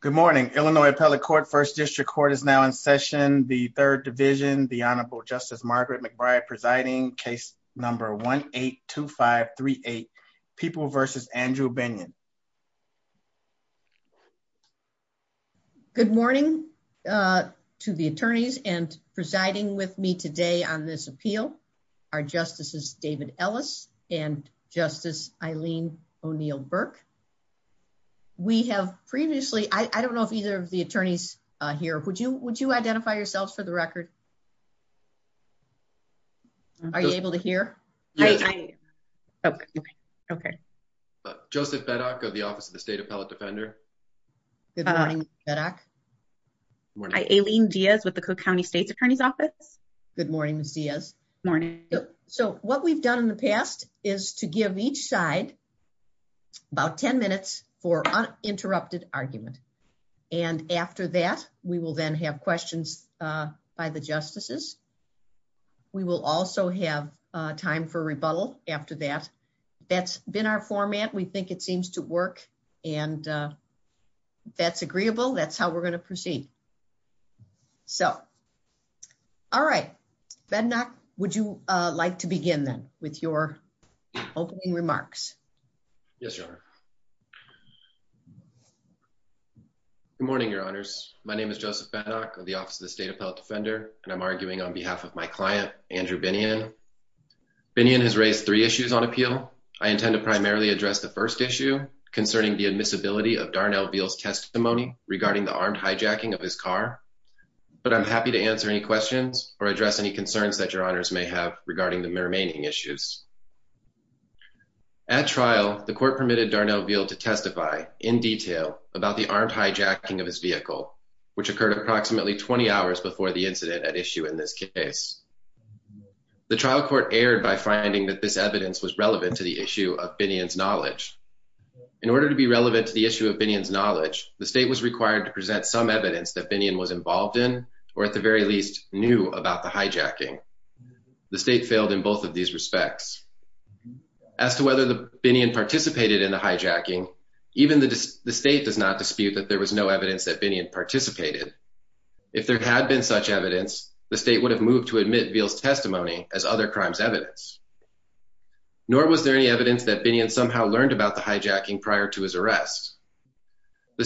Good morning. Illinois Appellate Court, First District Court is now in session. The Third Division, the Honorable Justice Margaret McBride presiding. Case number 1-8-2-5-3-8. People vs. Andrew Binion. Good morning to the attorneys and presiding with me today on this appeal are Justices David Ellis and Justice Eileen O'Neill Burke. We have previously, I don't know if either of the attorneys here, would you would you identify yourselves for the record? Are you able to hear? Yes. Okay. Okay. Joseph Beddock of the Office of the State Appellate Defender. Good morning, Mr. Beddock. Eileen Diaz with the Cook County State's Attorney's Office. Good morning, Ms. Diaz. Good morning. So what we've done in the past is to give each side about 10 minutes for uninterrupted argument. And after that, we will then have questions by the justices. We will also have time for rebuttal after that. That's been our format. We think it seems to work. And if that's agreeable, that's how we're going to proceed. So, all right. Bednock, would you like to begin then with your opening remarks? Yes, Your Honor. Good morning, Your Honors. My name is Joseph Bednock of the Office of the State Appellate Defender, and I'm arguing on behalf of my client, Andrew Binion. Binion has raised three testimony regarding the armed hijacking of his car, but I'm happy to answer any questions or address any concerns that Your Honors may have regarding the remaining issues. At trial, the court permitted Darnell Veal to testify in detail about the armed hijacking of his vehicle, which occurred approximately 20 hours before the incident at issue in this case. The trial court erred by finding that this evidence was relevant to the issue of Binion's knowledge, the state was required to present some evidence that Binion was involved in or at the very least knew about the hijacking. The state failed in both of these respects. As to whether Binion participated in the hijacking, even the state does not dispute that there was no evidence that Binion participated. If there had been such evidence, the state would have moved to admit Veal's testimony as other crimes evidence. Nor was there any The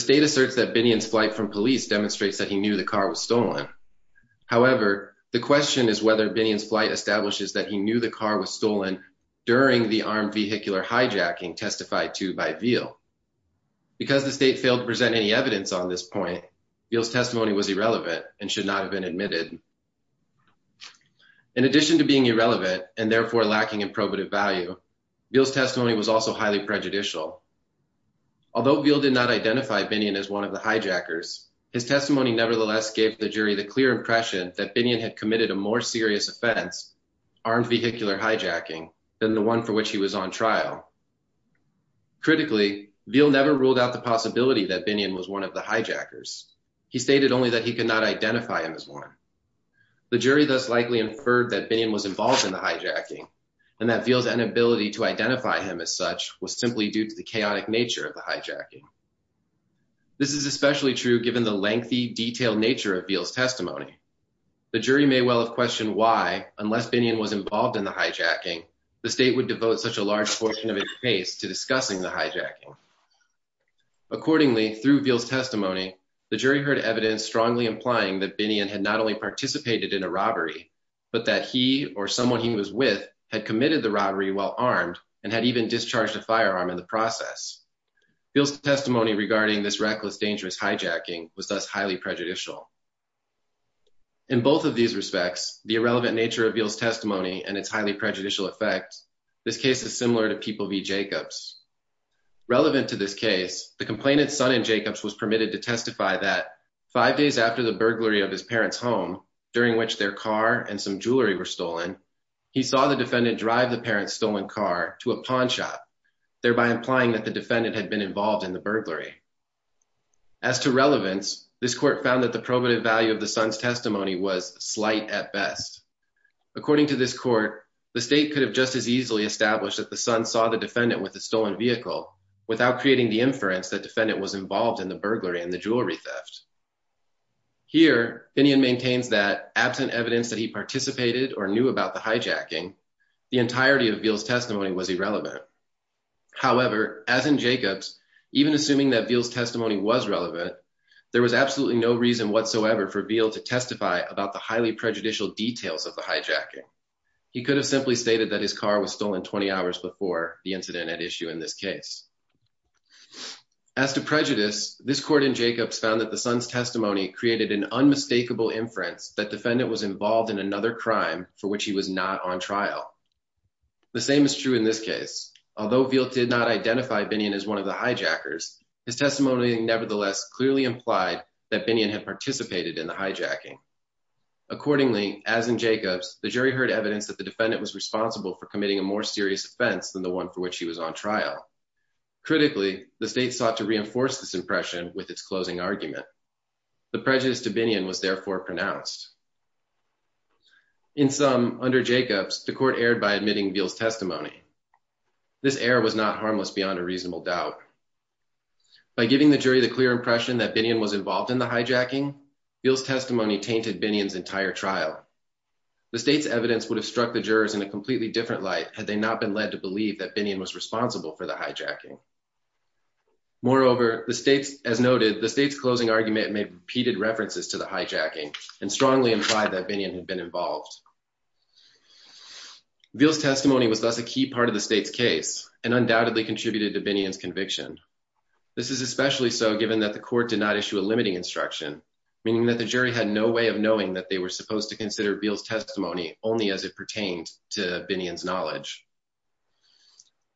state asserts that Binion's flight from police demonstrates that he knew the car was stolen. However, the question is whether Binion's flight establishes that he knew the car was stolen during the armed vehicular hijacking testified to by Veal. Because the state failed to present any evidence on this point, Veal's testimony was irrelevant and should not have been admitted. In addition to being irrelevant and therefore lacking in probative value, Veal's testimony was also highly prejudicial. Although Veal did not identify Binion as one of the hijackers, his testimony nevertheless gave the jury the clear impression that Binion had committed a more serious offense, armed vehicular hijacking, than the one for which he was on trial. Critically, Veal never ruled out the possibility that Binion was one of the hijackers. He stated only that he could not identify him as one. The jury thus likely inferred that Binion was involved in the hijacking and that Veal's inability to identify him as such was simply due to the chaotic nature of the hijacking. This is especially true given the lengthy, detailed nature of Veal's testimony. The jury may well have questioned why, unless Binion was involved in the hijacking, the state would devote such a large portion of its case to discussing the hijacking. Accordingly, through Veal's testimony, the jury heard evidence strongly implying that Binion had not only participated in a robbery, but that he or someone he was with had committed the robbery while armed and had even discharged a firearm in the process. Veal's testimony regarding this reckless, dangerous hijacking was thus highly prejudicial. In both of these respects, the irrelevant nature of Veal's testimony and its highly prejudicial effect, this case is similar to People v. Jacobs. Relevant to this case, the complainant's son in Jacobs was permitted to testify that five days after the burglary of his parents' home, during which their car and some jewelry were stolen, he saw the defendant drive the parents' stolen car to a pawn shop, thereby implying that the defendant had been involved in the burglary. As to relevance, this court found that the probative value of the son's testimony was slight at best. According to this court, the state could have just as easily established that the son saw the defendant with the stolen vehicle without creating the inference that the defendant was involved in the burglary and the jewelry theft. Here, Binion maintains that, absent evidence that he participated or knew about the hijacking, the entirety of Veal's testimony was irrelevant. However, as in Jacobs, even assuming that Veal's testimony was relevant, there was absolutely no reason whatsoever for Veal to testify about the highly prejudicial details of the hijacking. He could have simply stated that his car was stolen 20 hours before the incident at issue in this case. As to prejudice, this court in Jacobs found that the son's testimony created an unmistakable inference that defendant was involved in another crime for which he was not on trial. The same is true in this case. Although Veal did not identify Binion as one of the hijackers, his testimony nevertheless clearly implied that Binion had participated in the hijacking. Accordingly, as in Jacobs, the jury heard evidence that the defendant was responsible for committing a more serious offense than the one for which he was on trial. Critically, the state sought to reinforce this impression with its closing argument. The prejudice to Binion was therefore pronounced. In sum, under Jacobs, the court erred by admitting Veal's testimony. This error was not harmless beyond a reasonable doubt. By giving the jury the clear impression that Binion was involved in the hijacking, Veal's testimony tainted Binion's entire trial. The state's evidence would have struck the jurors in a completely different light had they not been led to believe that Binion was responsible for the hijacking. Moreover, as noted, the state's closing argument made repeated references to the hijacking and strongly implied that Binion had been involved. Veal's testimony was thus a key part of the state's case and undoubtedly contributed to Binion's conviction. This is especially so given that the court did not issue a limiting instruction, meaning that the jury had no way of knowing that they were supposed to consider Veal's testimony only as it pertained to Binion's knowledge.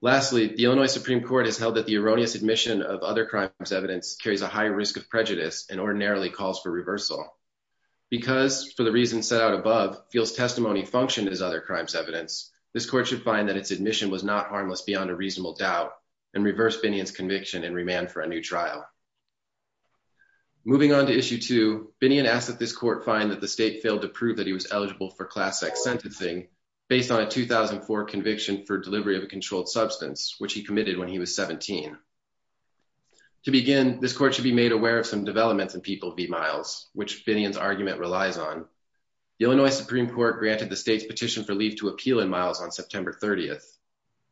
Lastly, the Illinois Supreme Court has held that the erroneous admission of other crimes evidence carries a high risk of prejudice and ordinarily calls for reversal. Because, for the reasons set out above, Veal's testimony functioned as other crimes evidence, this court should find that its admission was not harmless beyond a reasonable doubt and reverse Binion's conviction and remand for a new trial. Moving on to issue two, Binion asked that this court find that the state failed to prove that he was eligible for class X sentencing based on a 2004 conviction for delivery of a controlled substance, which he committed when he was 17. To begin, this court should be made aware of some developments in people v. Miles, which Binion's argument relies on. The Illinois Supreme Court granted the state's petition for leave to appeal in Miles on September 30th.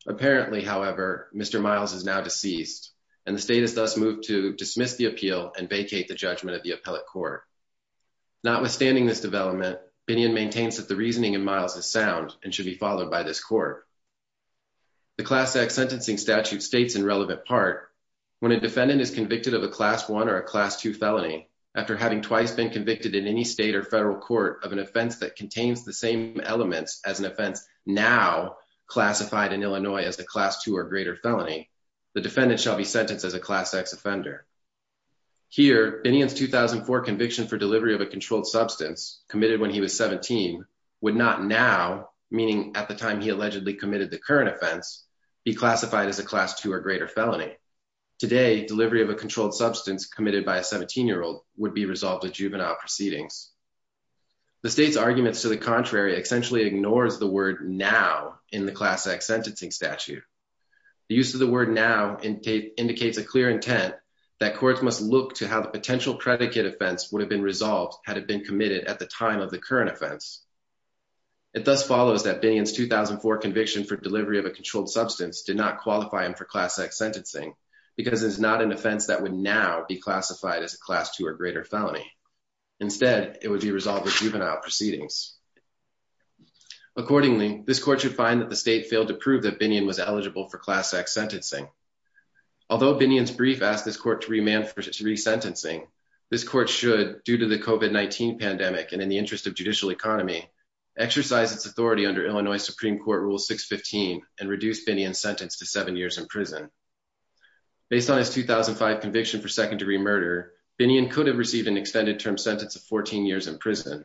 Apparently, however, Mr. Miles is now deceased and the state has thus moved to dismiss the appeal and vacate the judgment of the appellate court. Notwithstanding this development, Binion maintains that the reasoning in Miles is sound and should be followed by this court. The class X sentencing statute states in relevant part when a defendant is convicted of a class 1 or a class 2 felony after having twice been convicted in any state or federal court of an offense that contains the same elements as an offense now classified in Illinois as a class 2 or greater felony, the defendant shall be sentenced as a class X offender. Here, Binion's 2004 conviction for delivery of a controlled substance committed when he was 17 would not now, meaning at the time he allegedly committed the current offense, be classified as a class 2 or greater felony. Today, delivery of a controlled substance committed by a 17-year-old would be resolved at juvenile proceedings. The state's arguments to the contrary essentially ignores the word now in the class X sentencing statute. The use of the word now indicates a clear intent that courts must look to how the potential predicate offense would have been resolved had it been committed at the time of the current offense. It thus follows that Binion's 2004 conviction for delivery of a controlled substance did not qualify him for class X sentencing because it is not an offense that would now be classified as a class 2 or greater felony. Instead, it would be resolved at juvenile proceedings. Accordingly, this court should find that the state failed to prove that Binion was eligible for class X sentencing. Although Binion's brief asked this court to remand for re-sentencing, this court should, due to the COVID-19 pandemic and in the interest of judicial economy, exercise its authority under Illinois Supreme Court Rule 615 and reduce Binion's sentence to seven years in prison. Based on his 2005 conviction for second-degree murder, Binion could have received an extended-term sentence of 14 years in prison.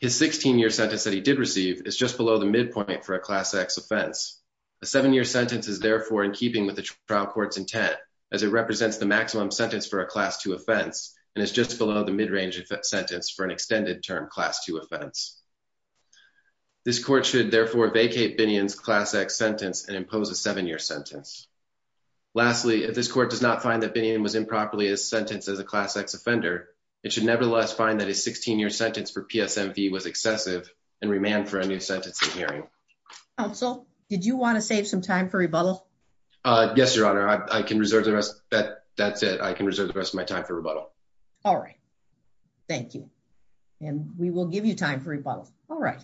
His 16-year sentence that he did receive is just below the midpoint for a class X offense. A seven-year sentence is therefore in keeping with the trial court's intent as it represents the maximum sentence for a class 2 offense and is just below the mid-range sentence for an extended-term class 2 offense. This court should, therefore, vacate Binion's class X sentence and impose a seven-year sentence. Lastly, if this court does not find that Binion was improperly sentenced as a class X offender, it should nevertheless find that his 16-year sentence for PSMV was excessive and remand for a new sentence in hearing. Counsel, did you want to save some time for rebuttal? Yes, Your Honor. That's it. I can reserve the rest of my time for rebuttal. All right. Thank you. And we will give you time for rebuttal. All right.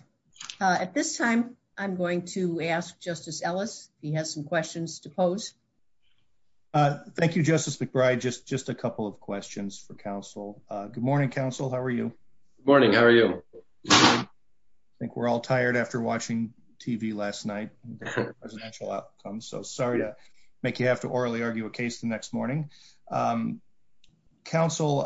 At this time, I'm going to ask Justice Ellis if he has some questions to pose. Thank you, Justice McBride. Just a couple of questions for counsel. Good morning, counsel. How are you? Good morning. How are you? I think we're all tired after watching TV last night. So sorry to make you have to orally argue a case the next morning. Counsel,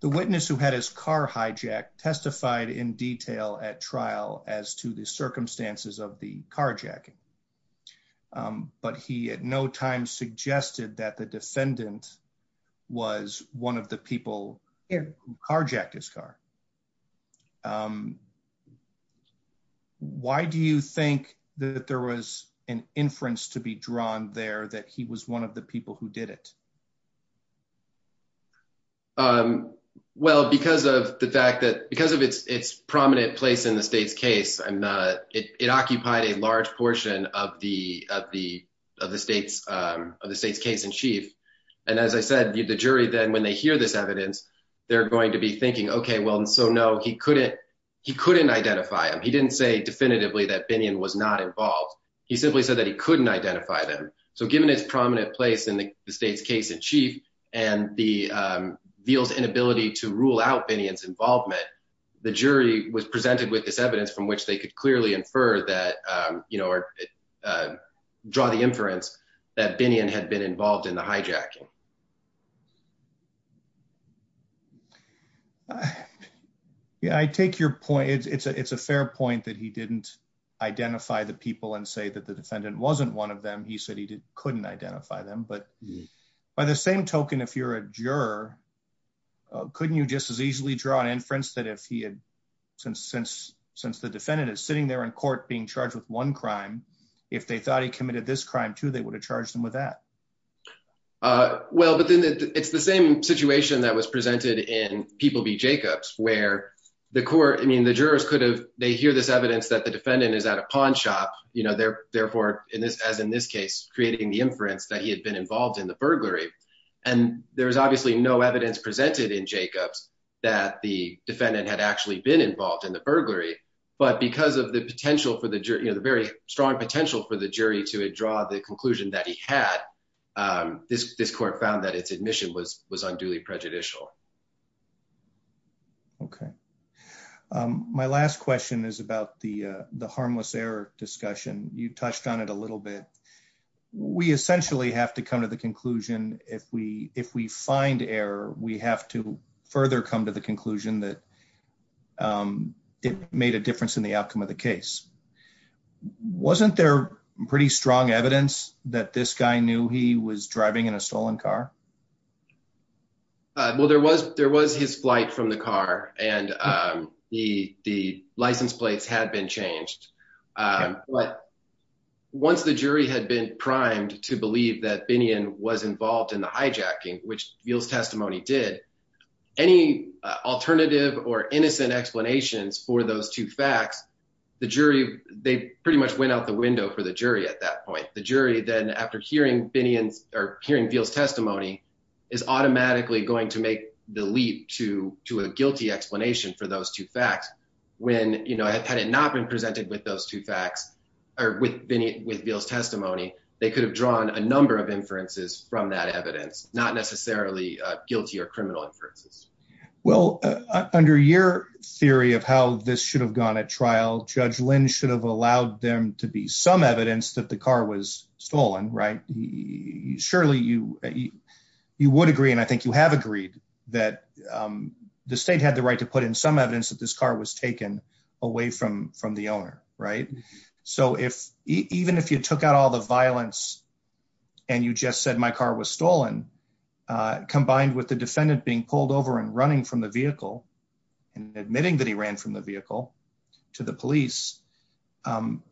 the witness who had his car hijacked testified in detail at trial as to the circumstances of the carjacking. But he at no time suggested that the defendant was one of the people who carjacked his car. Why do you think that there was an inference to be drawn there that he was one of the people who did it? Well, because of the fact that because of its its prominent place in the state's case, it occupied a large portion of the of the of the state's of the state's case in chief. And as I said, the jury, then when they hear this evidence, they're going to be thinking, OK, well, and so, no, he couldn't he couldn't identify him. He didn't say definitively that Binion was not involved. He simply said that he couldn't identify them. So given its prominent place in the state's case in chief and the veils inability to rule out Binion's involvement, the jury was presented with this evidence from which they could clearly infer that, you know, draw the inference that Binion had been involved in the hijacking. Yeah, I take your point. It's a it's a fair point that he didn't identify the people and say that the defendant wasn't one of them. He said he couldn't identify them. But by the same token, if you're a juror, couldn't you just as easily draw an inference that if he had since since since the defendant is sitting there in court being charged with one crime, if they thought he committed this crime, too, they would have charged him with that. Well, but then it's the same situation that was presented in People v. Jacobs, where the court I mean, the jurors could have they hear this evidence that the defendant is at a pawn shop. You know, they're therefore in this as in this case, creating the inference that he had been involved in the burglary. And there was obviously no evidence presented in Jacobs that the defendant had actually been involved in the burglary. But because of the potential for the very strong potential for the jury to draw the conclusion that he had this this court found that its admission was was unduly prejudicial. Okay. My last question is about the the harmless error discussion, you touched on it a little bit. We essentially have to come to the conclusion, if we if we find error, we have to further come to the conclusion that it made a difference in the outcome of the case. Wasn't there pretty strong evidence that this guy knew he was driving in a stolen car. Well, there was there was his flight from the car and the the license plates had been changed. But once the jury had been primed to believe that Binion was involved in the hijacking, which feels testimony did any alternative or innocent explanations for those two facts. The jury, they pretty much went out the window for the jury. At that point, the jury then after hearing Binion's or hearing feels testimony is automatically going to make the leap to to a guilty explanation for those two facts. When, you know, had it not been presented with those two facts, or with Binion with feels testimony, they could have drawn a number of inferences from that evidence, not necessarily guilty or criminal inferences. Well, under your theory of how this should have gone at trial, Judge Lynn should have allowed them to be some evidence that the car was stolen. Right. Surely you, you would agree and I think you have agreed that the state had the right to put in some evidence that this car was taken away from from the owner. Right. So if even if you took out all the violence and you just said my car was stolen, combined with the defendant being pulled over and running from the vehicle and admitting that he ran from the vehicle to the police.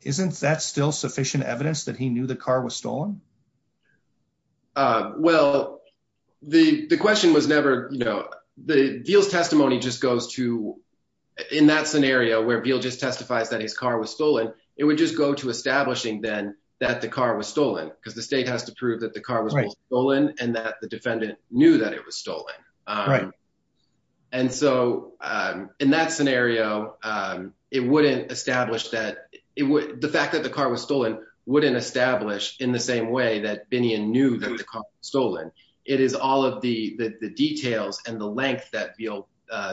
Isn't that still sufficient evidence that he knew the car was stolen. Well, the question was never, you know, the deals testimony just goes to in that scenario where bill just testifies that his car was stolen. It would just go to establishing then that the car was stolen because the state has to prove that the car was stolen and that the defendant knew that it was stolen. And so, in that scenario, it wouldn't establish that it would the fact that the car was stolen wouldn't establish in the same way that Binion knew that the car stolen. It is all of the details and the length that feel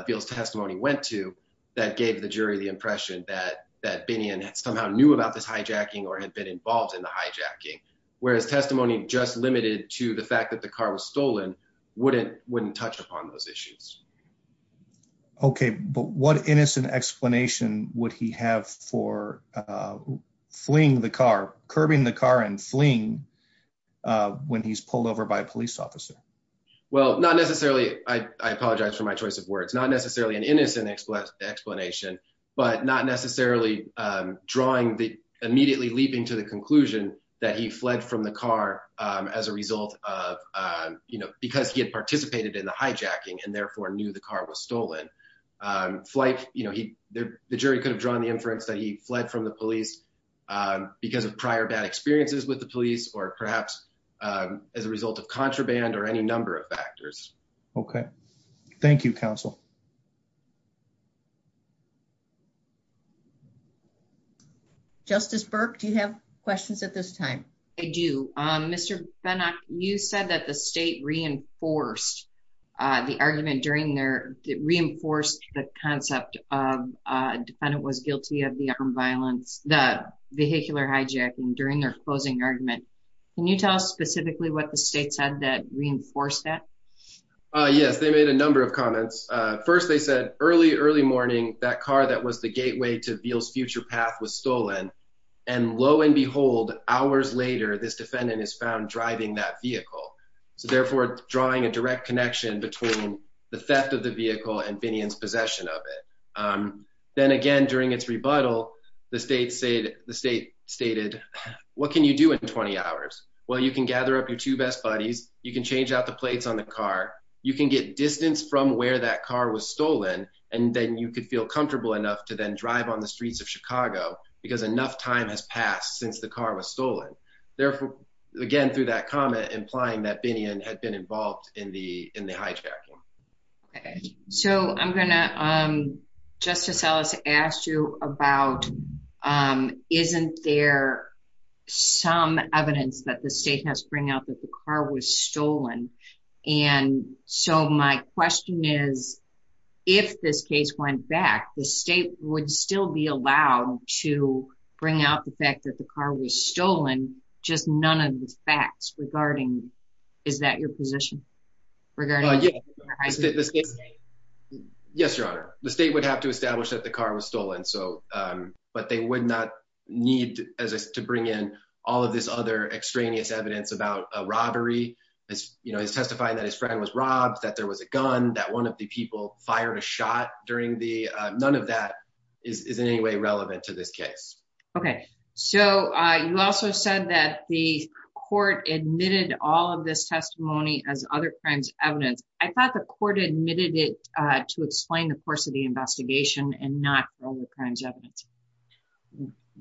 feels testimony went to that gave the jury the impression that that Binion somehow knew about this hijacking or had been involved in the hijacking, whereas testimony just limited to the fact that the car was stolen wouldn't wouldn't touch upon those issues. Okay, but what innocent explanation, would he have for fleeing the car curbing the car and fleeing when he's pulled over by a police officer. Well, not necessarily. I apologize for my choice of words, not necessarily an innocent explanation, but not necessarily drawing the immediately leaping to the conclusion that he fled from the car. As a result of, you know, because he had participated in the hijacking and therefore knew the car was stolen flight, you know, he, the jury could have drawn the inference that he fled from the police. Because of prior bad experiences with the police or perhaps as a result of contraband or any number of factors. Okay. Thank you, counsel. Justice Burke, do you have questions at this time. I do. Mr. The defendant was guilty of the violence that vehicular hijacking during their closing argument. Can you tell us specifically what the state said that reinforce that Yes, they made a number of comments. First, they said early, early morning that car that was the gateway to feel future path was stolen. And lo and behold, hours later, this defendant is found driving that vehicle. So therefore, drawing a direct connection between the theft of the vehicle and Binion's possession of it. Then again, during its rebuttal, the state said the state stated. What can you do in 20 hours. Well, you can gather up your two best buddies, you can change out the plates on the car. You can get distance from where that car was stolen and then you could feel comfortable enough to then drive on the streets of Chicago, because enough time has passed since the car was stolen. Therefore, again, through that comment implying that Binion had been involved in the in the hijacking. So I'm going to, um, Justice Ellis asked you about. Isn't there some evidence that the state has bring out that the car was stolen. And so my question is, if this case went back the state would still be allowed to bring out the fact that the car was stolen, just none of the facts regarding. Is that your position regarding. Yes, Your Honor, the state would have to establish that the car was stolen so, but they would not need to bring in all of this other extraneous evidence about a robbery is, you know, is testifying that his friend was robbed that there was a gun that one of the people fired a shot during the none of that is in any way relevant to this case. Okay, so you also said that the court admitted all of this testimony as other crimes evidence, I thought the court admitted it to explain the course of the investigation and not all the crimes evidence.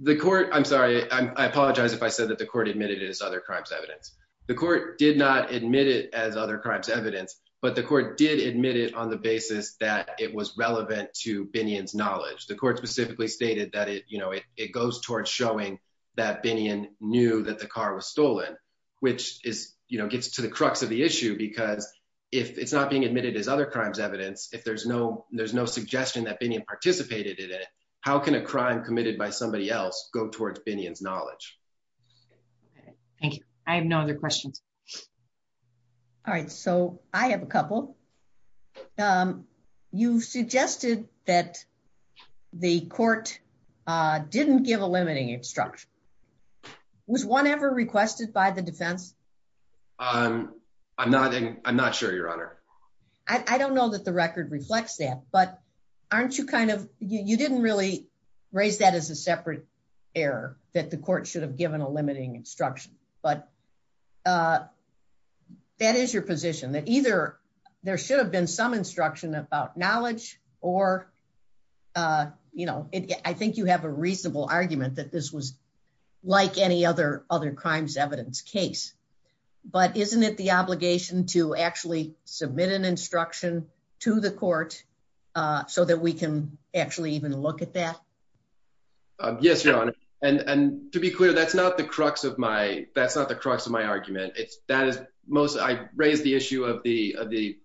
The court, I'm sorry, I apologize if I said that the court admitted is other crimes evidence. The court did not admit it as other crimes evidence, but the court did admit it on the basis that it was relevant to Binion's knowledge the court specifically stated that it, you know, it goes towards showing that Binion knew that the car was stolen, which is, you know, gets to the crux of the issue because if it's not being admitted as other crimes evidence if there's no, there's no suggestion that Binion participated in it. How can a crime committed by somebody else go towards Binion's knowledge. Thank you. I have no other questions. Alright, so I have a couple. You suggested that the court didn't give a limiting instruction was one ever requested by the defense. I'm, I'm not, I'm not sure your honor. I don't know that the record reflects that but aren't you kind of, you didn't really raise that as a separate error that the court should have given a limiting instruction, but that is your position that either. There should have been some instruction about knowledge, or, you know, I think you have a reasonable argument that this was like any other other crimes evidence case. But isn't it the obligation to actually submit an instruction to the court, so that we can actually even look at that. Yes, your honor. And to be clear, that's not the crux of my, that's not the crux of my argument, it's that is most I raised the issue of the, the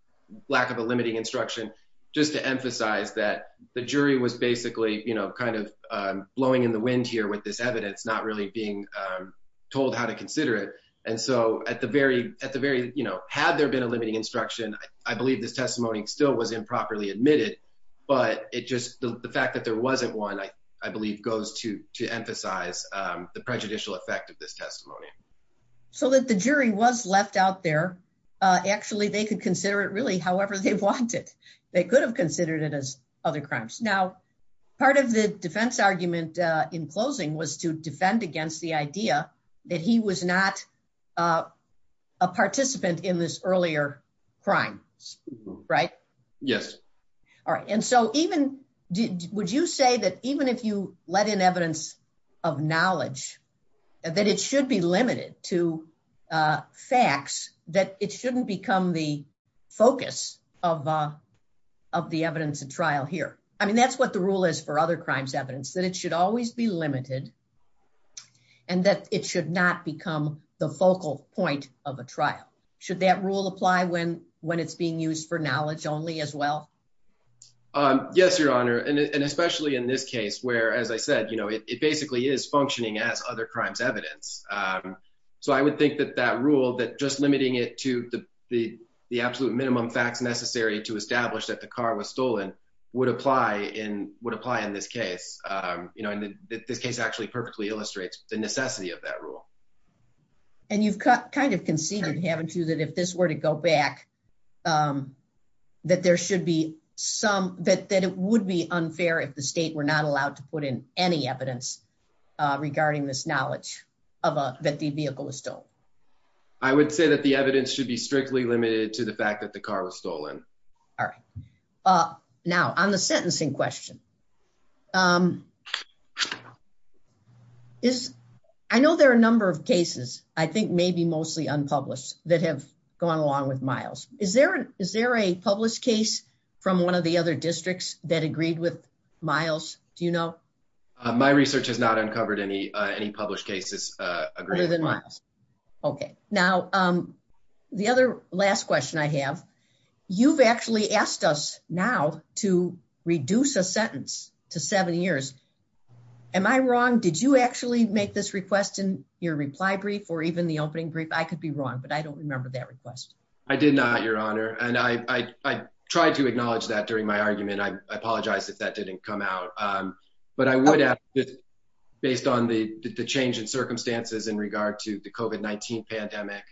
lack of a limiting instruction, just to emphasize that the jury was basically, you know, kind of blowing in the wind here with this evidence not really being told how to consider it. And so, at the very, at the very, you know, had there been a limiting instruction, I believe this testimony still was improperly admitted, but it just the fact that there wasn't one I, I believe goes to, to emphasize the prejudicial effect of this testimony, so that the jury was left out there. Actually, they could consider it really however they want it. They could have considered it as other crimes. Now, part of the defense argument in closing was to defend against the idea that he was not a participant in this earlier crime. Right. Yes. All right. And so even, would you say that even if you let in evidence of knowledge that it should be limited to facts that it shouldn't become the focus of, of the evidence of trial here. I mean that's what the rule is for other crimes evidence that it should always be limited, and that it should not become the focal point of a trial. Should that rule apply when when it's being used for knowledge only as well. Yes, Your Honor, and especially in this case where as I said you know it basically is functioning as other crimes evidence. So I would think that that rule that just limiting it to the, the, the absolute minimum facts necessary to establish that the car was stolen would apply in would apply in this case, you know, in this case actually perfectly illustrates the necessity of that rule. And you've kind of conceded haven't you that if this were to go back that there should be some that that it would be unfair if the state were not allowed to put in any evidence regarding this knowledge of that the vehicle was still, I would say that the evidence should be strictly limited to the fact that the car was stolen. All right. Now on the sentencing question is, I know there are a number of cases, I think maybe mostly unpublished that have gone along with miles, is there, is there a published case from one of the other districts that agreed with miles, do you know, my research has not uncovered any any published cases. Okay, now, um, the other last question I have, you've actually asked us now to reduce a sentence to seven years. Am I wrong, did you actually make this request in your reply brief or even the opening brief I could be wrong but I don't remember that request. I did not, Your Honor, and I tried to acknowledge that during my argument I apologize if that didn't come out. But I would add, based on the change in circumstances in regard to the coven 19 pandemic,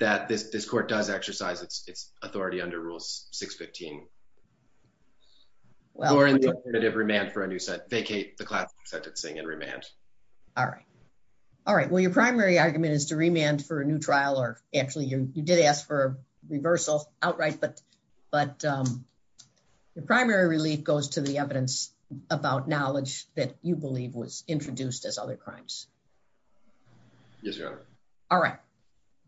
that this this court does exercise its authority under rules, 615 remand for a new set vacate the class sentencing and remand. All right. All right, well your primary argument is to remand for a new trial or actually you did ask for reversal outright but but your primary relief goes to the evidence about knowledge that you believe was introduced as other crimes. All right.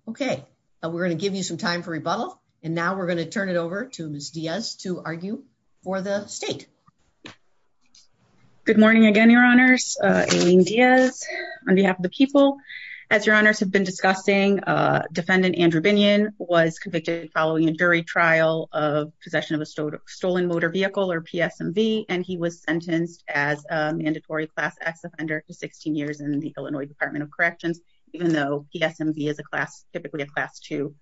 Okay, we're going to give you some time for rebuttal. And now we're going to turn it over to Miss Diaz to argue for the state. Good morning again Your Honors. On behalf of the people. As Your Honors have been discussing defendant Andrew Binion was convicted following a jury trial of possession of a stolen stolen motor vehicle or PSMV and he was sentenced as mandatory class acts of under 16 years in the Illinois Department of Corrections, even though he SMV is a class, typically a class to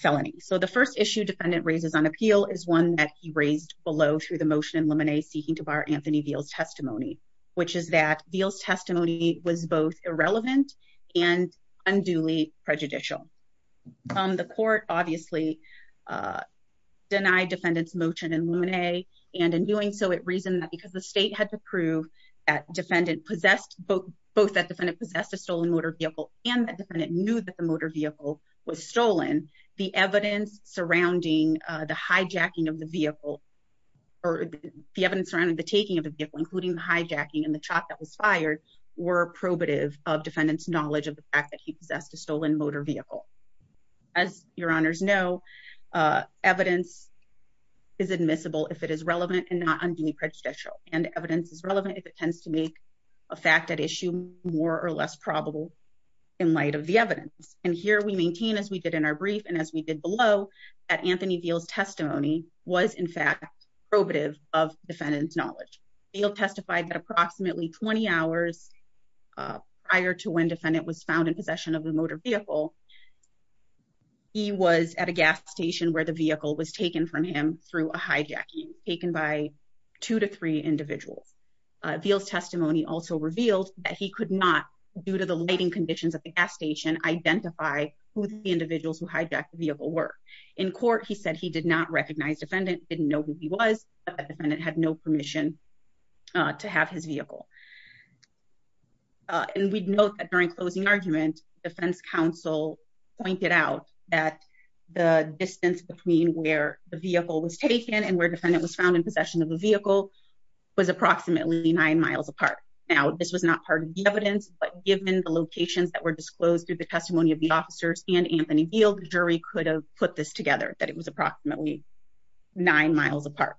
felony. So the first issue defendant raises on appeal is one that he raised below through the motion and lemonade seeking to bar Anthony deals testimony, which is that deals testimony was both irrelevant and unduly prejudicial. The court, obviously, denied defendants motion and lemonade, and in doing so it reason that because the state had to prove that defendant possessed both both that defendant possessed a stolen motor vehicle, and it knew that the motor vehicle was stolen the evidence surrounding the hijacking of the vehicle. Or the evidence around the taking of the vehicle, including the hijacking and the chop that was fired were probative of defendants knowledge of the fact that he possessed a stolen motor vehicle. As Your Honors know, evidence is admissible if it is relevant and not unduly prejudicial and evidence is relevant if it tends to make a fact that issue, more or less probable. In light of the evidence, and here we maintain as we did in our brief and as we did below at Anthony deals testimony was in fact probative of defendants knowledge, he'll testify that approximately 20 hours. Prior to when defendant was found in possession of a motor vehicle. He was at a gas station where the vehicle was taken from him through a hijacking taken by two to three individuals feels testimony also revealed that he could not do to the lighting conditions of the gas station identify who the individuals who hijacked In court, he said he did not recognize defendant didn't know who he was a defendant had no permission to have his vehicle. And we'd note that during closing argument defense counsel pointed out that the distance between where the vehicle was taken and where defendant was found in possession of a vehicle. Was approximately nine miles apart. Now, this was not part of the evidence, but given the locations that were disclosed through the testimony of the officers and Anthony field jury could have put this together that it was approximately nine miles apart.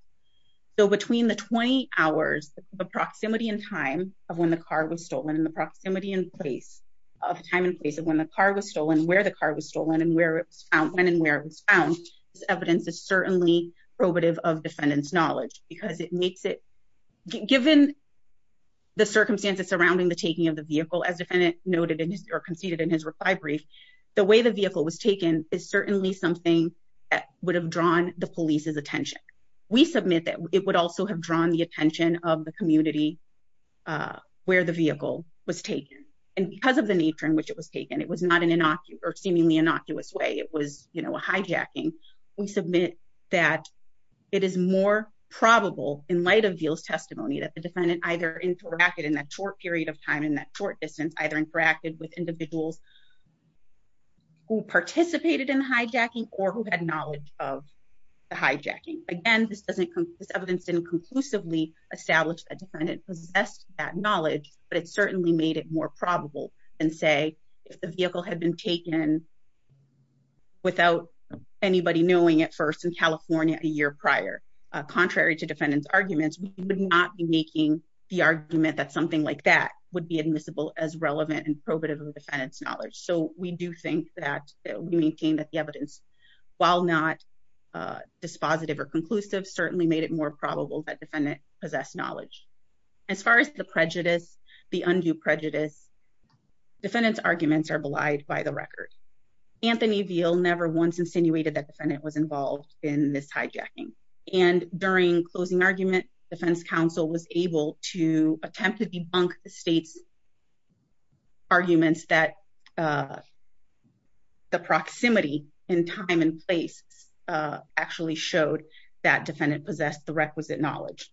So between the 20 hours, the proximity and time of when the car was stolen in the proximity in place of time in place of when the car was stolen where the car was stolen and where it's out when and where it was found evidence is certainly probative of defendants knowledge, because it makes it. Given the circumstances surrounding the taking of the vehicle as defendant noted in his or conceded in his reply brief the way the vehicle was taken is certainly something that would have drawn the police's attention. We submit that it would also have drawn the attention of the community. Where the vehicle was taken, and because of the nature in which it was taken, it was not an innocuous or seemingly innocuous way it was, you know, a hijacking. We submit that it is more probable in light of deals testimony that the defendant either interacted in that short period of time in that short distance either interacted with individuals who participated in hijacking or who had knowledge of the hijacking. Again, this doesn't come this evidence didn't conclusively established a defendant possess that knowledge, but it certainly made it more probable than say, if the vehicle had been taken without anybody knowing at first in California, a year prior, contrary to defendants arguments, we would not be making the argument that something like that would be admissible as relevant and probative of defendants knowledge so we do think that we maintain that the evidence. While not dispositive or conclusive certainly made it more probable that defendant possess knowledge. As far as the prejudice, the undue prejudice defendants arguments are belied by the record. Anthony veal never once insinuated that defendant was involved in this hijacking and during closing argument Defense Council was able to attempt to debunk the state's arguments that the proximity in time and place actually showed that defendant possess the requisite knowledge.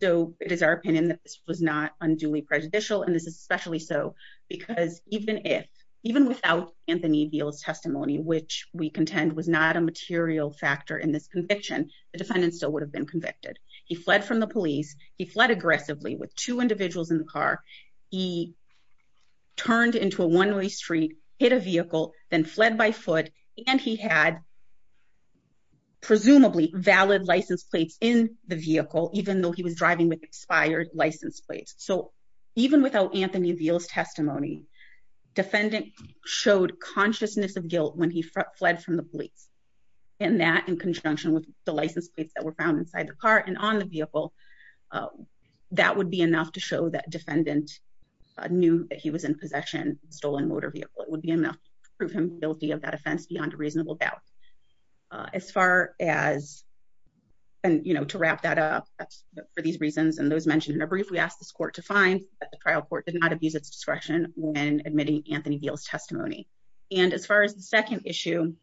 So, it is our opinion that this was not unduly prejudicial and this is especially so because even if even without Anthony deals testimony which we contend was not a material factor in this conviction, the defendant still would have been convicted. He fled from the police, he fled aggressively with two individuals in the car. He turned into a one way street hit a vehicle, then fled by foot, and he had presumably valid license plates in the vehicle, even though he was driving with expired license plates. So, even without Anthony deals testimony defendant showed consciousness of guilt when he fled from the police, and that in conjunction with the license plates that were found inside the car and on the vehicle. That would be enough to show that defendant knew that he was in possession stolen motor vehicle, it would be enough to prove him guilty of that offense beyond a reasonable doubt. As far as, and you know to wrap that up for these reasons and those mentioned in a brief we asked this court to find the trial court did not abuse its discretion when admitting Anthony deals testimony. And as far as the second issue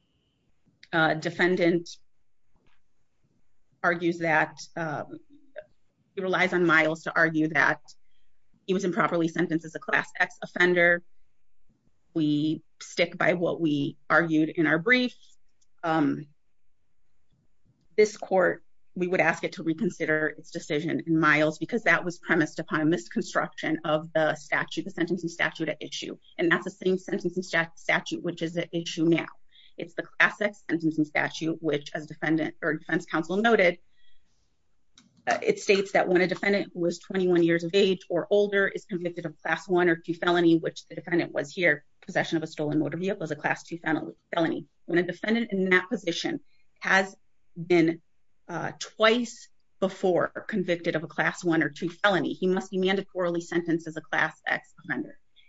defendant argues that it relies on miles to argue that he was improperly sentenced as a class X offender. We stick by what we argued in our brief. This court, we would ask it to reconsider its decision miles because that was premised upon misconstruction of the statute the sentence and statute issue, and that's the same sentence and statute which is an issue now, it's the classic sentence and statute, which as defendant or defense counsel noted. It states that when a defendant was 21 years of age or older is convicted of class one or two felony which the defendant was here possession of a stolen motor vehicle as a class two family felony when a defendant in that position has been twice before convicted of a class one or two felony he must be mandatorily sentences a class X.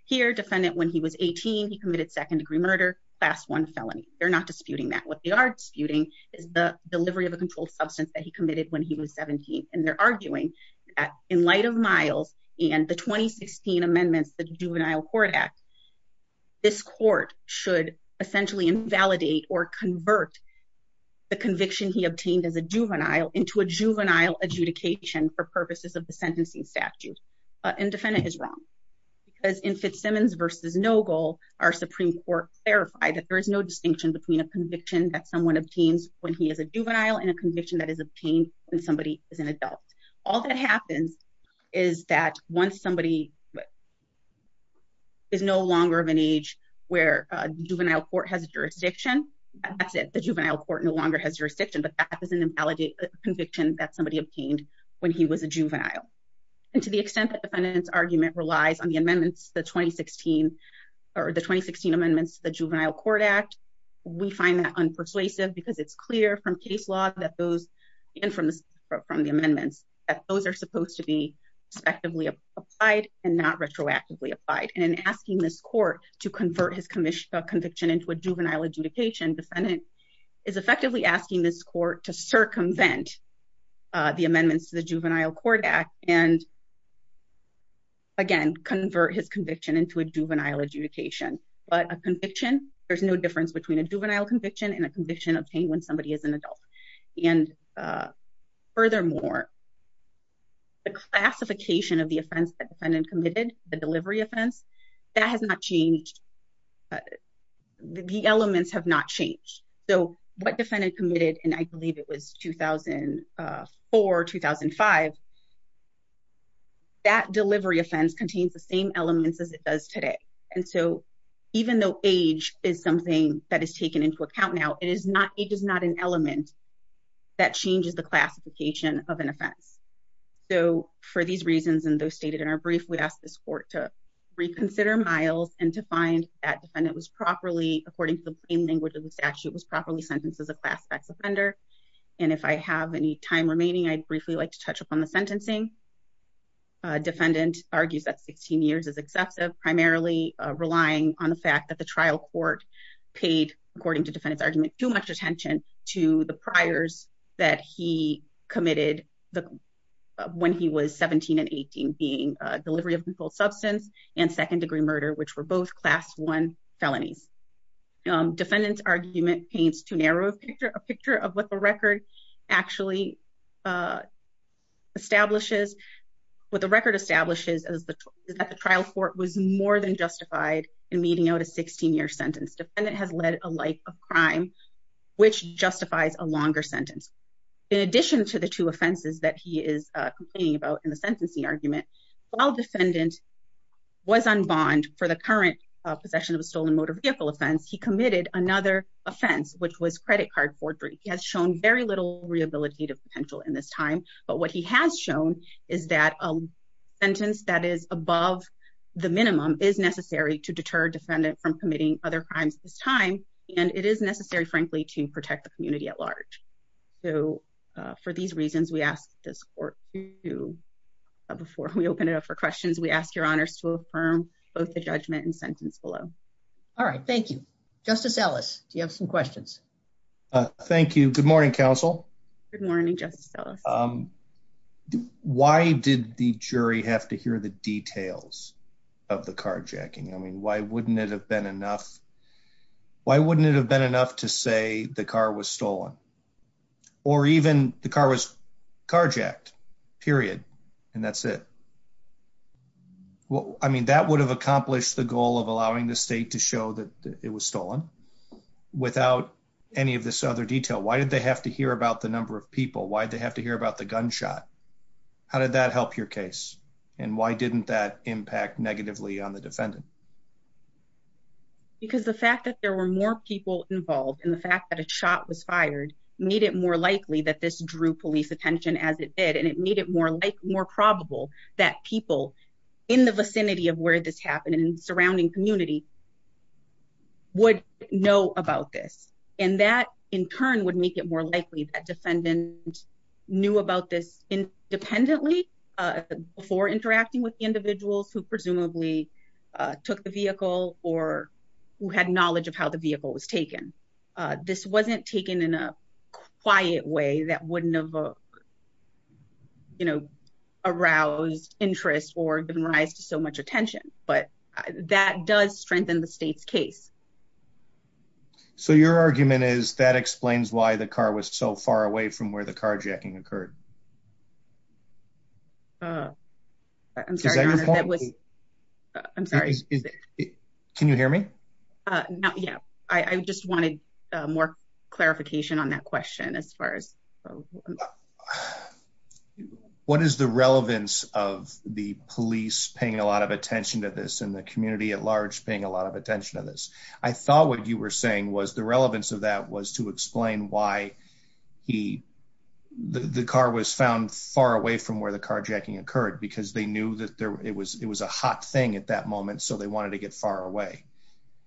Here defendant when he was 18 he committed second degree murder last one felony, they're not disputing that what they are disputing is the delivery of a controlled substance that he committed when he was 17 and they're arguing that in light of miles, and the 2016 amendments that juvenile court act. This court should essentially invalidate or convert the conviction he obtained as a juvenile into a juvenile adjudication for purposes of the sentencing statute and defendant is wrong. Because in Fitzsimmons versus no goal, our Supreme Court verify that there is no distinction between a conviction that someone obtains when he is a juvenile and a conviction that is obtained when somebody is an adult, all that happens is that once somebody is no longer of an age where juvenile court has jurisdiction. That's it, the juvenile court no longer has jurisdiction but that doesn't invalidate conviction that somebody obtained when he was a juvenile, and to the extent that defendants argument relies on the amendments, the 2016 or the 2016 amendments, the juvenile court act. We find that unpersuasive because it's clear from case law that those in from the from the amendments that those are supposed to be effectively applied and not retroactively applied and asking this court to convert his commission conviction into a juvenile adjudication defendant is effectively asking this court to circumvent the amendments to the juvenile court act and again convert his conviction into a juvenile adjudication, but a conviction, there's no difference between a juvenile conviction and a conviction obtained when somebody is an adult. And furthermore, the classification of the offense that defendant committed, the delivery offense, that has not changed. The elements have not changed. So what defendant committed and I believe it was 2004-2005, that delivery offense contains the same elements as it does today. And so, even though age is something that is taken into account now, it is not, it is not an element that changes the classification of an offense. So, for these reasons, and those stated in our brief, we asked this court to reconsider Miles and to find that defendant was properly, according to the language of the statute, was properly sentenced as a classified offender. And if I have any time remaining, I'd briefly like to touch upon the sentencing. Defendant argues that 16 years is excessive, primarily relying on the fact that the trial court paid, according to defendant's argument, too much attention to the priors that he committed when he was 17 and 18, being delivery of lethal substance and second degree murder, which were both class one felonies. Defendant's argument paints too narrow a picture of what the record actually establishes. What the record establishes is that the trial court was more than justified in meeting out a 16 year sentence. Defendant has led a life of crime, which justifies a longer sentence. In addition to the two offenses that he is complaining about in the sentencing argument, while defendant was on bond for the current possession of a stolen motor vehicle offense, he committed another offense, which was credit card forgery. He has shown very little rehabilitative potential in this time, but what he has shown is that a sentence that is above the minimum is necessary to deter defendant from committing other crimes this time, and it is necessary, frankly, to protect the community at large. So for these reasons, we ask this court to, before we open it up for questions, we ask your honors to affirm both the judgment and sentence below. All right, thank you. Justice Ellis, do you have some questions? Thank you. Good morning, counsel. Good morning, Justice Ellis. Why did the jury have to hear the details of the carjacking? I mean, why wouldn't it have been enough to say the car was stolen? Or even the car was carjacked, period, and that's it. Well, I mean, that would have accomplished the goal of allowing the state to show that it was stolen. Without any of this other detail, why did they have to hear about the number of people? Why did they have to hear about the gunshot? How did that help your case? And why didn't that impact negatively on the defendant? Because the fact that there were more people involved and the fact that a shot was fired made it more likely that this drew police attention as it did. And it made it more probable that people in the vicinity of where this happened and in the surrounding community would know about this. And that in turn would make it more likely that defendants knew about this independently before interacting with individuals who presumably took the vehicle or who had knowledge of how the vehicle was taken. This wasn't taken in a quiet way that wouldn't have aroused interest or given rise to so much attention. But that does strengthen the state's case. So your argument is that explains why the car was so far away from where the carjacking occurred? I'm sorry. I'm sorry. Can you hear me? Yeah. I just wanted more clarification on that question as far as... What is the relevance of the police paying a lot of attention to this and the community at large paying a lot of attention to this? I thought what you were saying was the relevance of that was to explain why the car was found far away from where the carjacking occurred. Because they knew that it was a hot thing at that moment, so they wanted to get far away.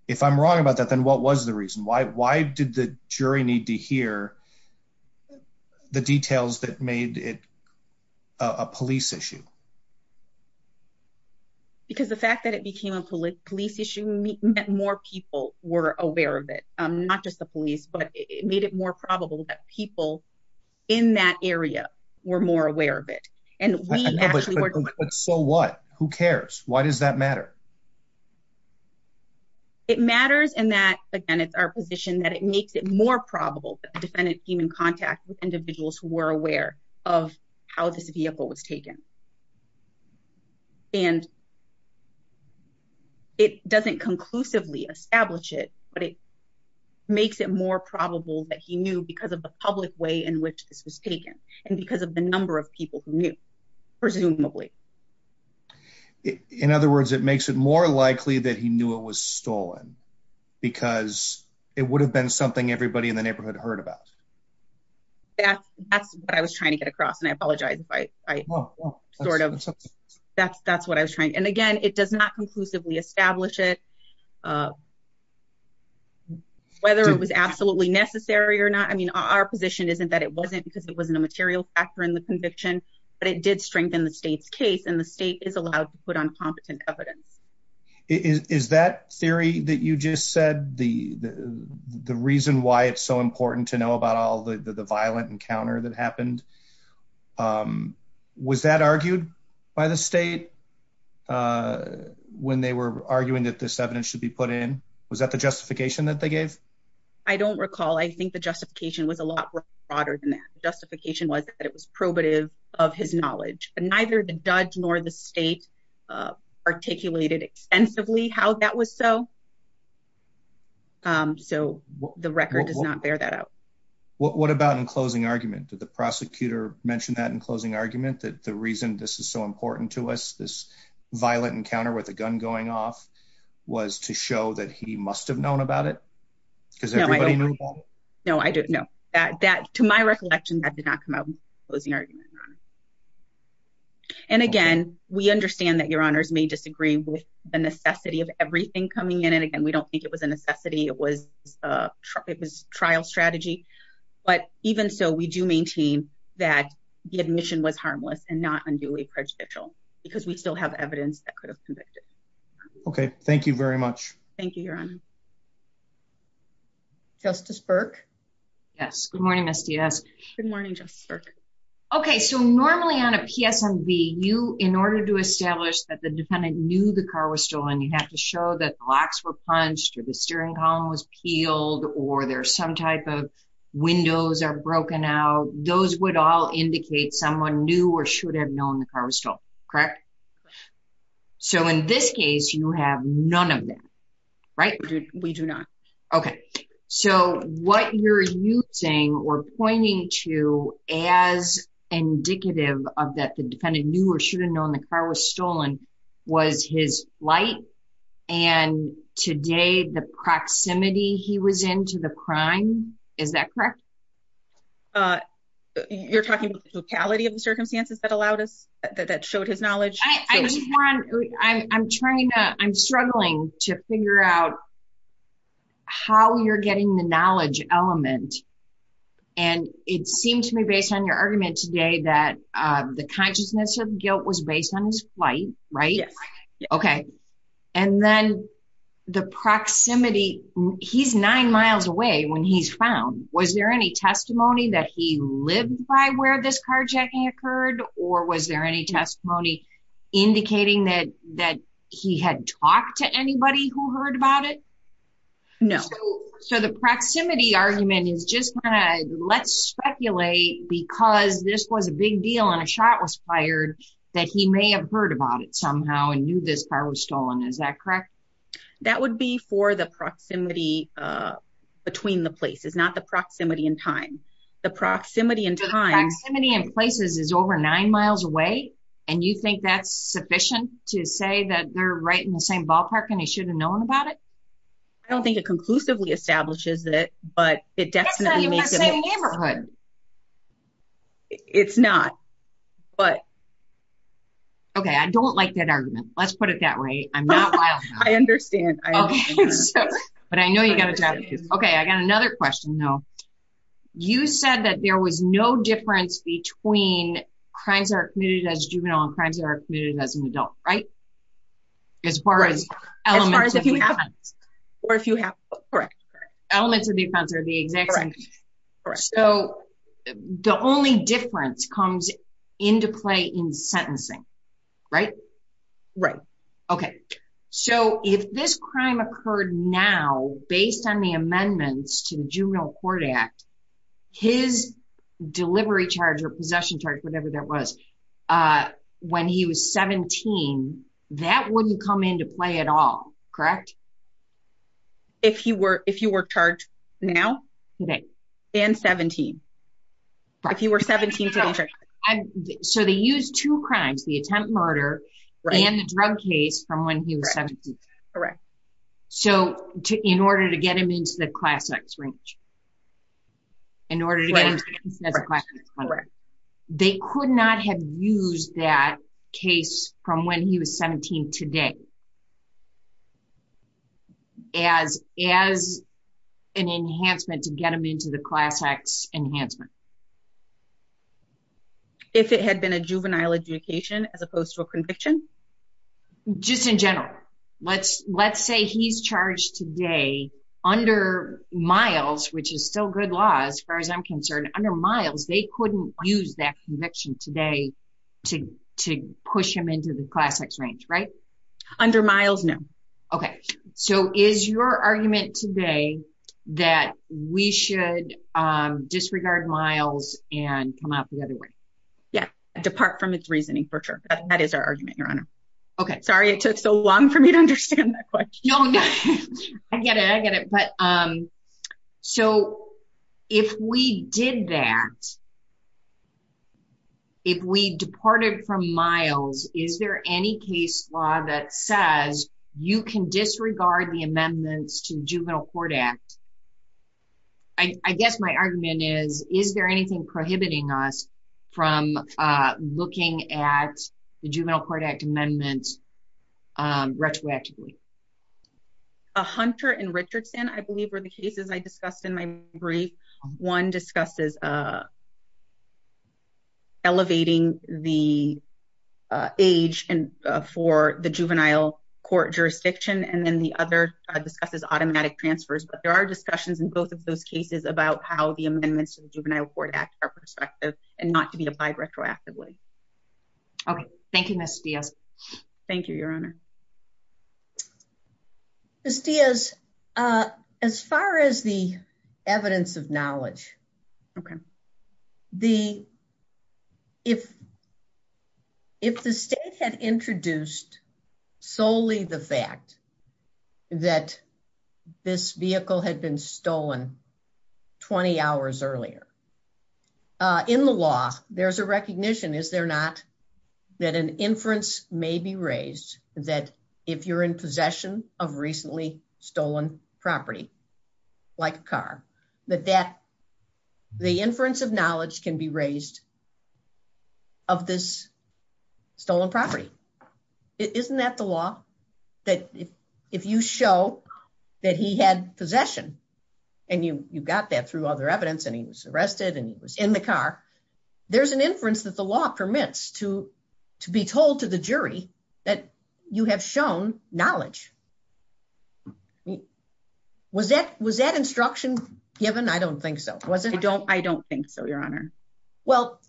If I'm wrong about that, then what was the reason? Why did the jury need to hear the details that made it a police issue? Because the fact that it became a police issue meant more people were aware of it. Not just the police, but it made it more probable that people in that area were more aware of it. So what? Who cares? Why does that matter? It matters in that, again, it's our position that it makes it more probable that the defendant came in contact with individuals who were aware of how this vehicle was taken. And it doesn't conclusively establish it, but it makes it more probable that he knew because of the public way in which this was taken and because of the number of people who knew, presumably. In other words, it makes it more likely that he knew it was stolen because it would have been something everybody in the neighborhood heard about. That's what I was trying to get across, and I apologize if I sort of, that's what I was trying. And again, it does not conclusively establish it, whether it was absolutely necessary or not. I mean, our position isn't that it wasn't because it wasn't a material factor in the conviction, but it did strengthen the state's case and the state is allowed to put on competent evidence. Is that theory that you just said, the reason why it's so important to know about all the violent encounter that happened? Was that argued by the state when they were arguing that this evidence should be put in? Was that the justification that they gave? I don't recall. I think the justification was a lot broader than that. The justification was that it was probative of his knowledge, and neither the judge nor the state articulated extensively how that was so. So, the record does not bear that out. What about in closing argument? Did the prosecutor mention that in closing argument, that the reason this is so important to us, this violent encounter with a gun going off, was to show that he must have known about it? No, I don't know. To my recollection, that did not come out in closing argument, Your Honor. And again, we understand that Your Honors may disagree with the necessity of everything coming in. And again, we don't think it was a necessity. It was a trial strategy. But even so, we do maintain that the admission was harmless and not unduly prejudicial because we still have evidence that could have convicted. Okay. Thank you very much. Thank you, Your Honor. Justice Burke? Yes. Good morning, Ms. Diaz. Good morning, Justice Burke. Okay. So, normally on a PSMB, you, in order to establish that the defendant knew the car was stolen, you have to show that locks were punched or the steering column was peeled or there's some type of windows are broken out. Those would all indicate someone knew or should have known the car was stolen. Correct? Correct. So, in this case, you have none of that. Right? We do not. Okay. So, what you're using or pointing to as indicative of that the defendant knew or should have known the car was stolen was his light and today the proximity he was in to the crime. Is that correct? You're talking about the locality of the circumstances that allowed us, that showed his knowledge? I'm struggling to figure out how you're getting the knowledge element and it seemed to me based on your argument today that the consciousness of guilt was based on his flight. Right? Yes. Okay. And then the proximity, he's nine miles away when he's found. Was there any testimony that he lived by where this carjacking occurred or was there any testimony indicating that he had talked to anybody who heard about it? No. So, the proximity argument is just kind of, let's speculate because this was a big deal and a shot was fired that he may have heard about it somehow and knew this car was stolen. Is that correct? That would be for the proximity between the places, not the proximity in time. The proximity in time. The proximity in places is over nine miles away and you think that's sufficient to say that they're right in the same ballpark and they should have known about it? I don't think it conclusively establishes it, but it definitely makes it a neighborhood. It's not, but... Okay. I don't like that argument. Let's put it that way. I'm not wild about it. I understand. But I know you got a job to do. Okay. I got another question though. You said that there was no difference between crimes that are committed as juvenile and crimes that are committed as an adult. Right? As far as elements of defense. Correct. Elements of defense are the exact same. So, the only difference comes into play in sentencing. Right? Right. Okay. So, if this crime occurred now, based on the amendments to the Juvenile Court Act, his delivery charge or possession charge, whatever that was, when he was 17, that wouldn't come into play at all. Correct? If he were charged now? And 17. If he were 17 today. So, they used two crimes, the attempt murder and the drug case from when he was 17. Correct. So, in order to get him into the Class X range. In order to get him sentenced as a Class X murderer. They could not have used that case from when he was 17 today as an enhancement to get him into the Class X enhancement. If it had been a juvenile adjudication as opposed to a conviction? Just in general. Let's say he's charged today under Miles, which is still good law as far as I'm concerned. Under Miles, they couldn't use that conviction today to push him into the Class X range. Right? Under Miles, no. Okay. So, is your argument today that we should disregard Miles and come out the other way? Yeah. Depart from its reasoning, for sure. That is our argument, Your Honor. Okay. Sorry it took so long for me to understand that question. I get it. I get it. So, if we did that, if we departed from Miles, is there any case law that says you can disregard the amendments to the Juvenile Court Act? I guess my argument is, is there anything prohibiting us from looking at the Juvenile Court Act amendments retroactively? Hunter and Richardson, I believe, were the cases I discussed in my brief. One discusses elevating the age for the juvenile court jurisdiction, and then the other discusses automatic transfers. But there are discussions in both of those cases about how the amendments to the Juvenile Court Act are prospective and not to be applied retroactively. Okay. Thank you, Ms. Diaz. Thank you, Your Honor. Ms. Diaz, as far as the evidence of knowledge, if the state had introduced solely the fact that this vehicle had been stolen 20 hours earlier, in the law, there's a recognition, is there not, that an inference may be raised that if you're in possession of recently stolen property, like a car, that the inference of knowledge can be raised of this stolen property. Isn't that the law? That if you show that he had possession, and you got that through other evidence, and he was arrested, and he was in the car, there's an inference that the law permits to be told to the jury that you have shown knowledge. Was that instruction given? I don't think so. I don't think so, Your Honor. Well,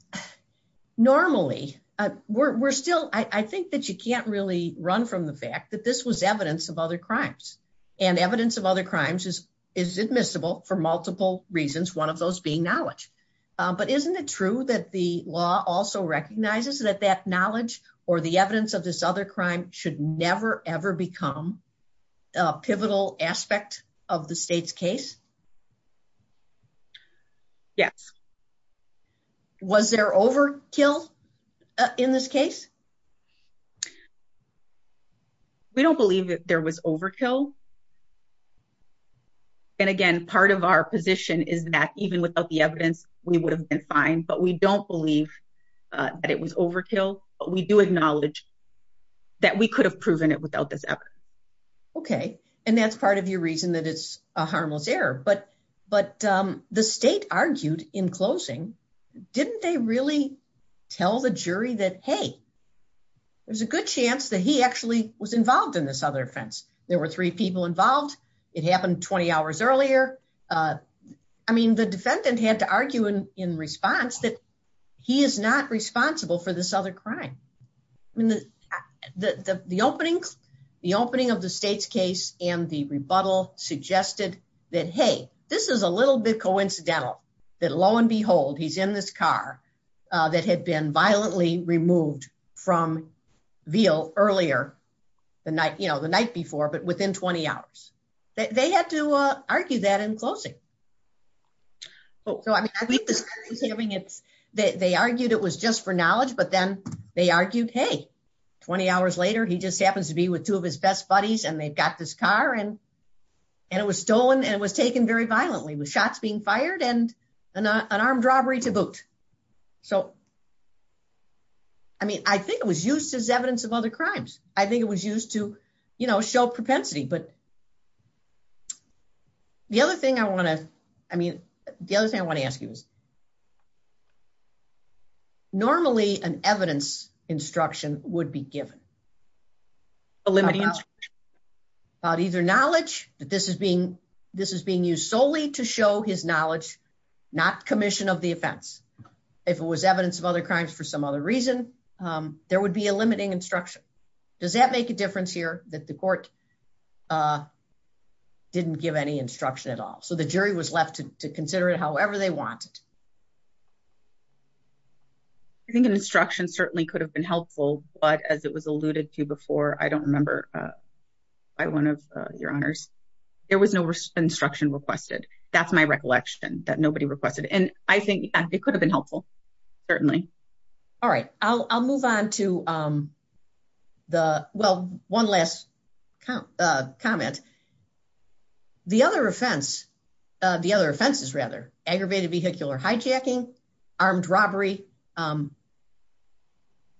normally, we're still, I think that you can't really run from the fact that this was evidence of other crimes. And evidence of other crimes is admissible for multiple reasons, one of those being knowledge. But isn't it true that the law also recognizes that that knowledge or the evidence of this other crime should never, ever become a pivotal aspect of the state's case? Yes. Was there overkill in this case? We don't believe that there was overkill. And again, part of our position is that even without the evidence, we would have been fine, but we don't believe that it was overkill, but we do acknowledge that we could have proven it without this evidence. Okay. And that's part of your reason that it's a harmless error. But the state argued in closing, didn't they really tell the jury that, hey, there's a good chance that he actually was involved in this other offense? There were three people involved. It happened 20 hours earlier. I mean, the defendant had to argue in response that he is not responsible for this other crime. The opening of the state's case and the rebuttal suggested that, hey, this is a little bit coincidental that lo and behold, he's in this car that had been violently removed from Veal earlier the night before, but within 20 hours. They had to argue that in closing. They argued it was just for knowledge, but then they argued, hey, 20 hours later, he just happens to be with two of his best buddies and they've got this car and it was stolen and it was taken very violently with shots being fired and an armed robbery to boot. I mean, I think it was used as evidence of other crimes. I think it was used to show propensity. But the other thing I want to ask you is, normally an evidence instruction would be given. A limiting instruction? About either knowledge, that this is being used solely to show his knowledge, not commission of the offense. If it was evidence of other crimes for some other reason, there would be a limiting instruction. Does that make a difference here that the court didn't give any instruction at all? So the jury was left to consider it however they wanted? I think an instruction certainly could have been helpful. But as it was alluded to before, I don't remember by one of your honors, there was no instruction requested. That's my recollection that nobody requested. And I think it could have been helpful, certainly. All right, I'll move on to the, well, one last comment. The other offenses, rather, aggravated vehicular hijacking, armed robbery,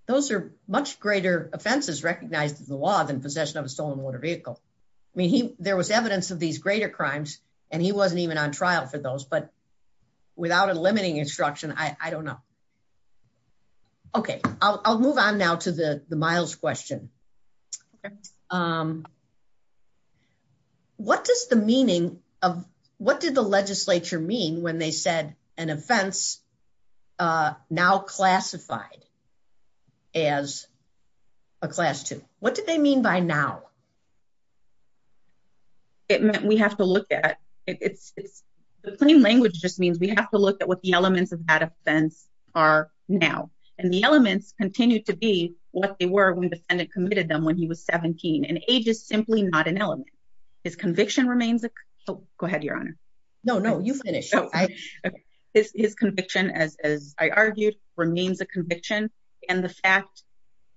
those are much greater offenses recognized in the law than possession of a stolen motor vehicle. I mean, there was evidence of these greater crimes and he wasn't even on trial for those. But without a limiting instruction, I don't know. Okay, I'll move on now to the Miles question. What does the meaning of, what did the legislature mean when they said an offense now classified as a Class II? What did they mean by now? It meant we have to look at, the plain language just means we have to look at what the elements of that offense are now. And the elements continue to be what they were when the defendant committed them when he was 17. And age is simply not an element. His conviction remains, go ahead, Your Honor. No, no, you finish. His conviction, as I argued, remains a conviction. And the fact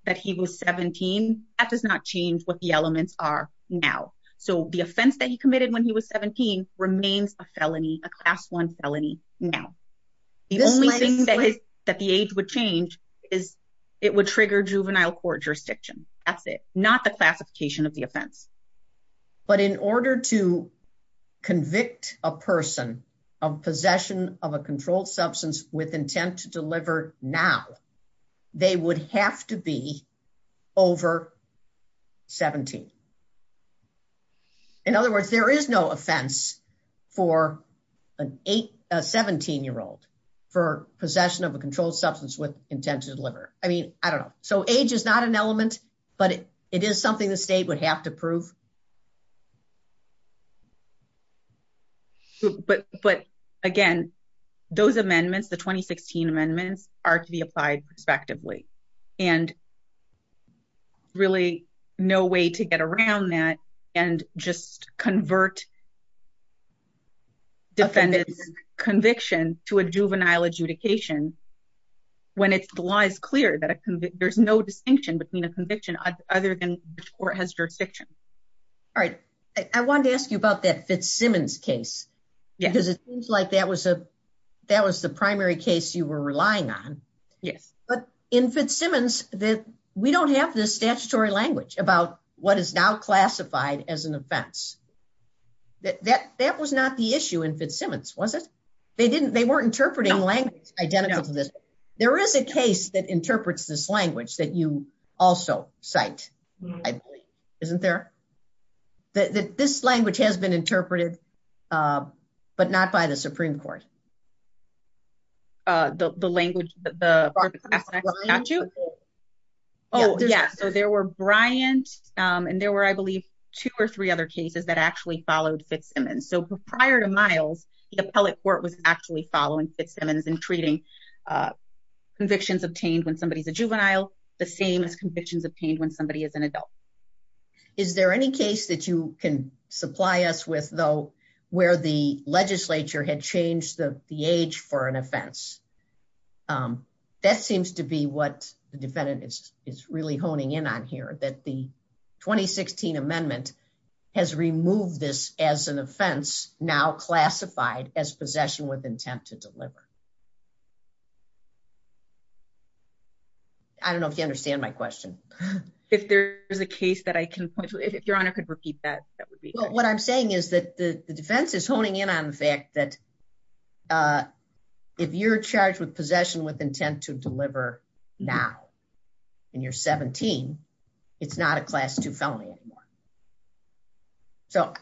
that he was 17, that does not change what the elements are now. So the offense that he committed when he was 17 remains a felony, a Class I felony now. The only thing that the age would change is it would trigger juvenile court jurisdiction. That's it. Not the classification of the offense. But in order to convict a person of possession of a controlled substance with intent to deliver now, they would have to be over 17. In other words, there is no offense for a 17-year-old for possession of a controlled substance with intent to deliver. I mean, I don't know. So age is not an element, but it is something the state would have to prove. But again, those amendments, the 2016 amendments, are to be applied prospectively. And really, no way to get around that and just convert defendant's conviction to a juvenile adjudication when the law is clear that there's no distinction between a conviction other than which court has jurisdiction. All right. I wanted to ask you about that Fitzsimmons case. Because it seems like that was the primary case you were relying on. But in Fitzsimmons, we don't have this statutory language about what is now classified as an offense. That was not the issue in Fitzsimmons, was it? They weren't interpreting language identical to this. There is a case that interprets this language that you also cite, I believe. Isn't there? This language has been interpreted, but not by the Supreme Court. The language, the statute? Oh, yeah. So there were Bryant, and there were, I believe, two or three other cases that actually followed Fitzsimmons. So prior to Miles, the appellate court was actually following Fitzsimmons and treating convictions obtained when somebody's a juvenile the same as convictions obtained when somebody is an adult. Is there any case that you can supply us with, though, where the legislature had changed the age for an offense? That seems to be what the defendant is really honing in on here, that the 2016 amendment has removed this as an offense now classified as possession with intent to deliver. I don't know if you understand my question. If there is a case that I can point to, if Your Honor could repeat that. What I'm saying is that the defense is honing in on the fact that if you're charged with possession with intent to deliver now, and you're 17, it's not a Class II felony anymore. So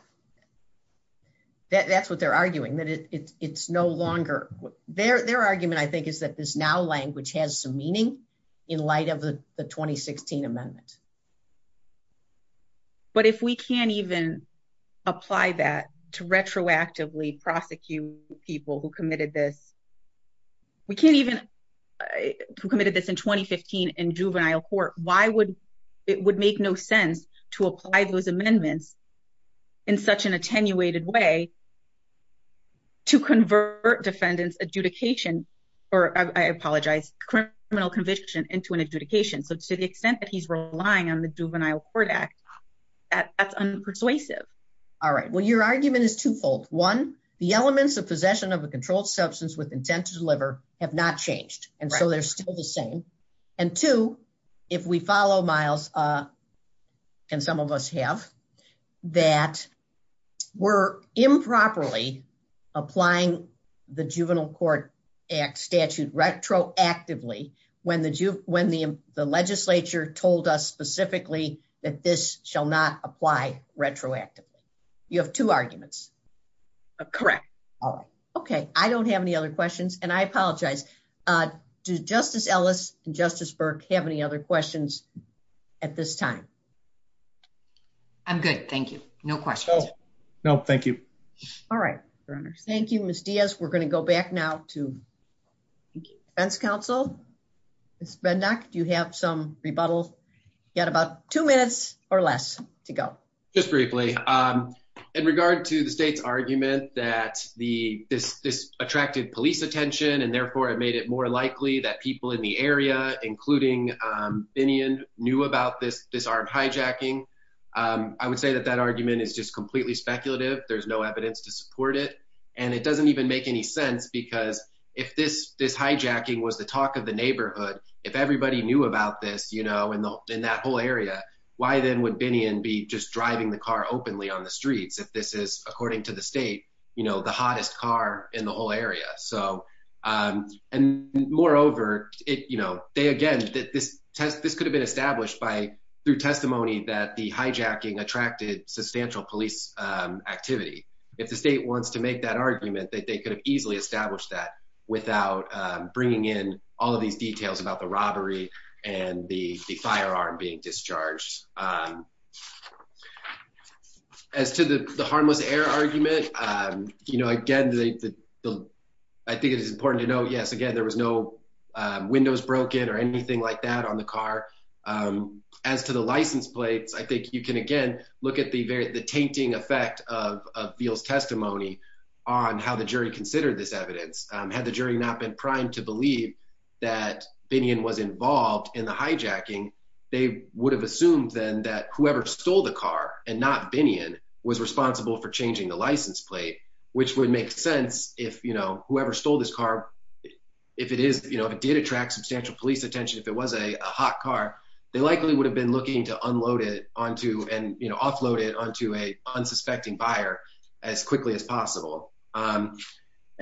that's what they're arguing, that it's no longer... Their argument, I think, is that this now language has some meaning in light of the 2016 amendment. But if we can't even apply that to retroactively prosecute people who committed this... Who committed this in 2015 in juvenile court, why would it make no sense to apply those amendments in such an attenuated way to convert defendant's criminal conviction into an adjudication? So to the extent that he's relying on the Juvenile Court Act, that's unpersuasive. All right. Well, your argument is twofold. One, the elements of possession of a controlled substance with intent to deliver have not changed. And so they're still the same. And two, if we follow, Miles, and some of us have, that we're improperly applying the Juvenile Court Act statute retroactively when the legislature told us specifically that this shall not apply retroactively. You have two arguments. Correct. Okay. I don't have any other questions. And I apologize. Do Justice Ellis and Justice Burke have any other questions at this time? I'm good. Thank you. No questions. No, thank you. All right. Thank you, Ms. Diaz. We're going to go back now to defense counsel. Ms. Bendok, do you have some rebuttals? You had about two minutes or less to go. Just briefly. In regard to the state's argument that this attracted police attention and therefore it made it more likely that people in the area, including Binion, knew about this armed hijacking, I would say that that argument is just completely speculative. There's no evidence to support it. And it doesn't even make any sense because if this hijacking was the talk of the neighborhood, if everybody knew about this in that whole area, why then would Binion be just driving the car openly on the streets if this is, according to the state, you know, the hottest car in the whole area. So, and moreover, it, you know, they, again, this could have been established by, through testimony that the hijacking attracted substantial police activity. If the state wants to make that argument, they could have easily established that without bringing in all of these details about the robbery and the firearm being discharged. As to the harmless air argument, you know, again, I think it is important to note, yes, again, there was no windows broken or anything like that on the car. As to the license plates, I think you can, again, look at the tainting effect of Veal's testimony on how the jury considered this evidence. Had the jury not been primed to believe that Binion was involved in the hijacking, they would have assumed then that whoever stole the car and not Binion was responsible for changing the license plate, which would make sense if, you know, whoever stole this car, if it is, you know, if it did attract substantial police attention, if it was a hot car, they likely would have been looking to unload it onto and, you know, offload it onto a unsuspecting buyer as quickly as possible.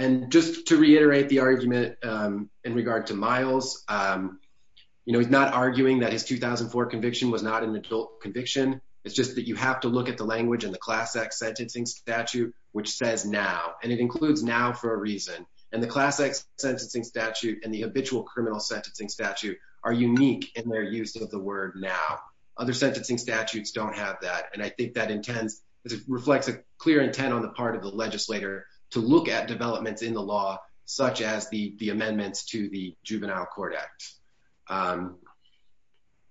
And just to reiterate the argument in regard to Miles, you know, he's not arguing that his 2004 conviction was not an adult conviction. It's just that you have to look at the language in the class X sentencing statute, which says now, and it includes now for a reason. And the class X sentencing statute and the habitual criminal sentencing statute are unique in their use of the word now. Other sentencing statutes don't have that. And I think that intends, it reflects a clear intent on the part of the legislator to look at developments in the law, such as the amendments to the juvenile court act.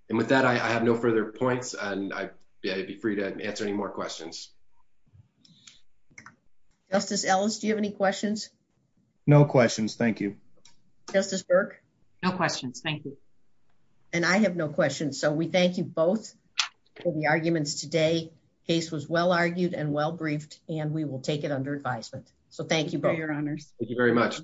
And with that, I have no further points. And I'd be free to answer any more questions. Justice Ellis, do you have any questions? No questions. Thank you. Justice Burke. No questions. Thank you. And I have no questions. So we thank you both for the arguments today. It was well argued and well briefed and we will take it under advisement. So thank you for your honors. Thank you very much.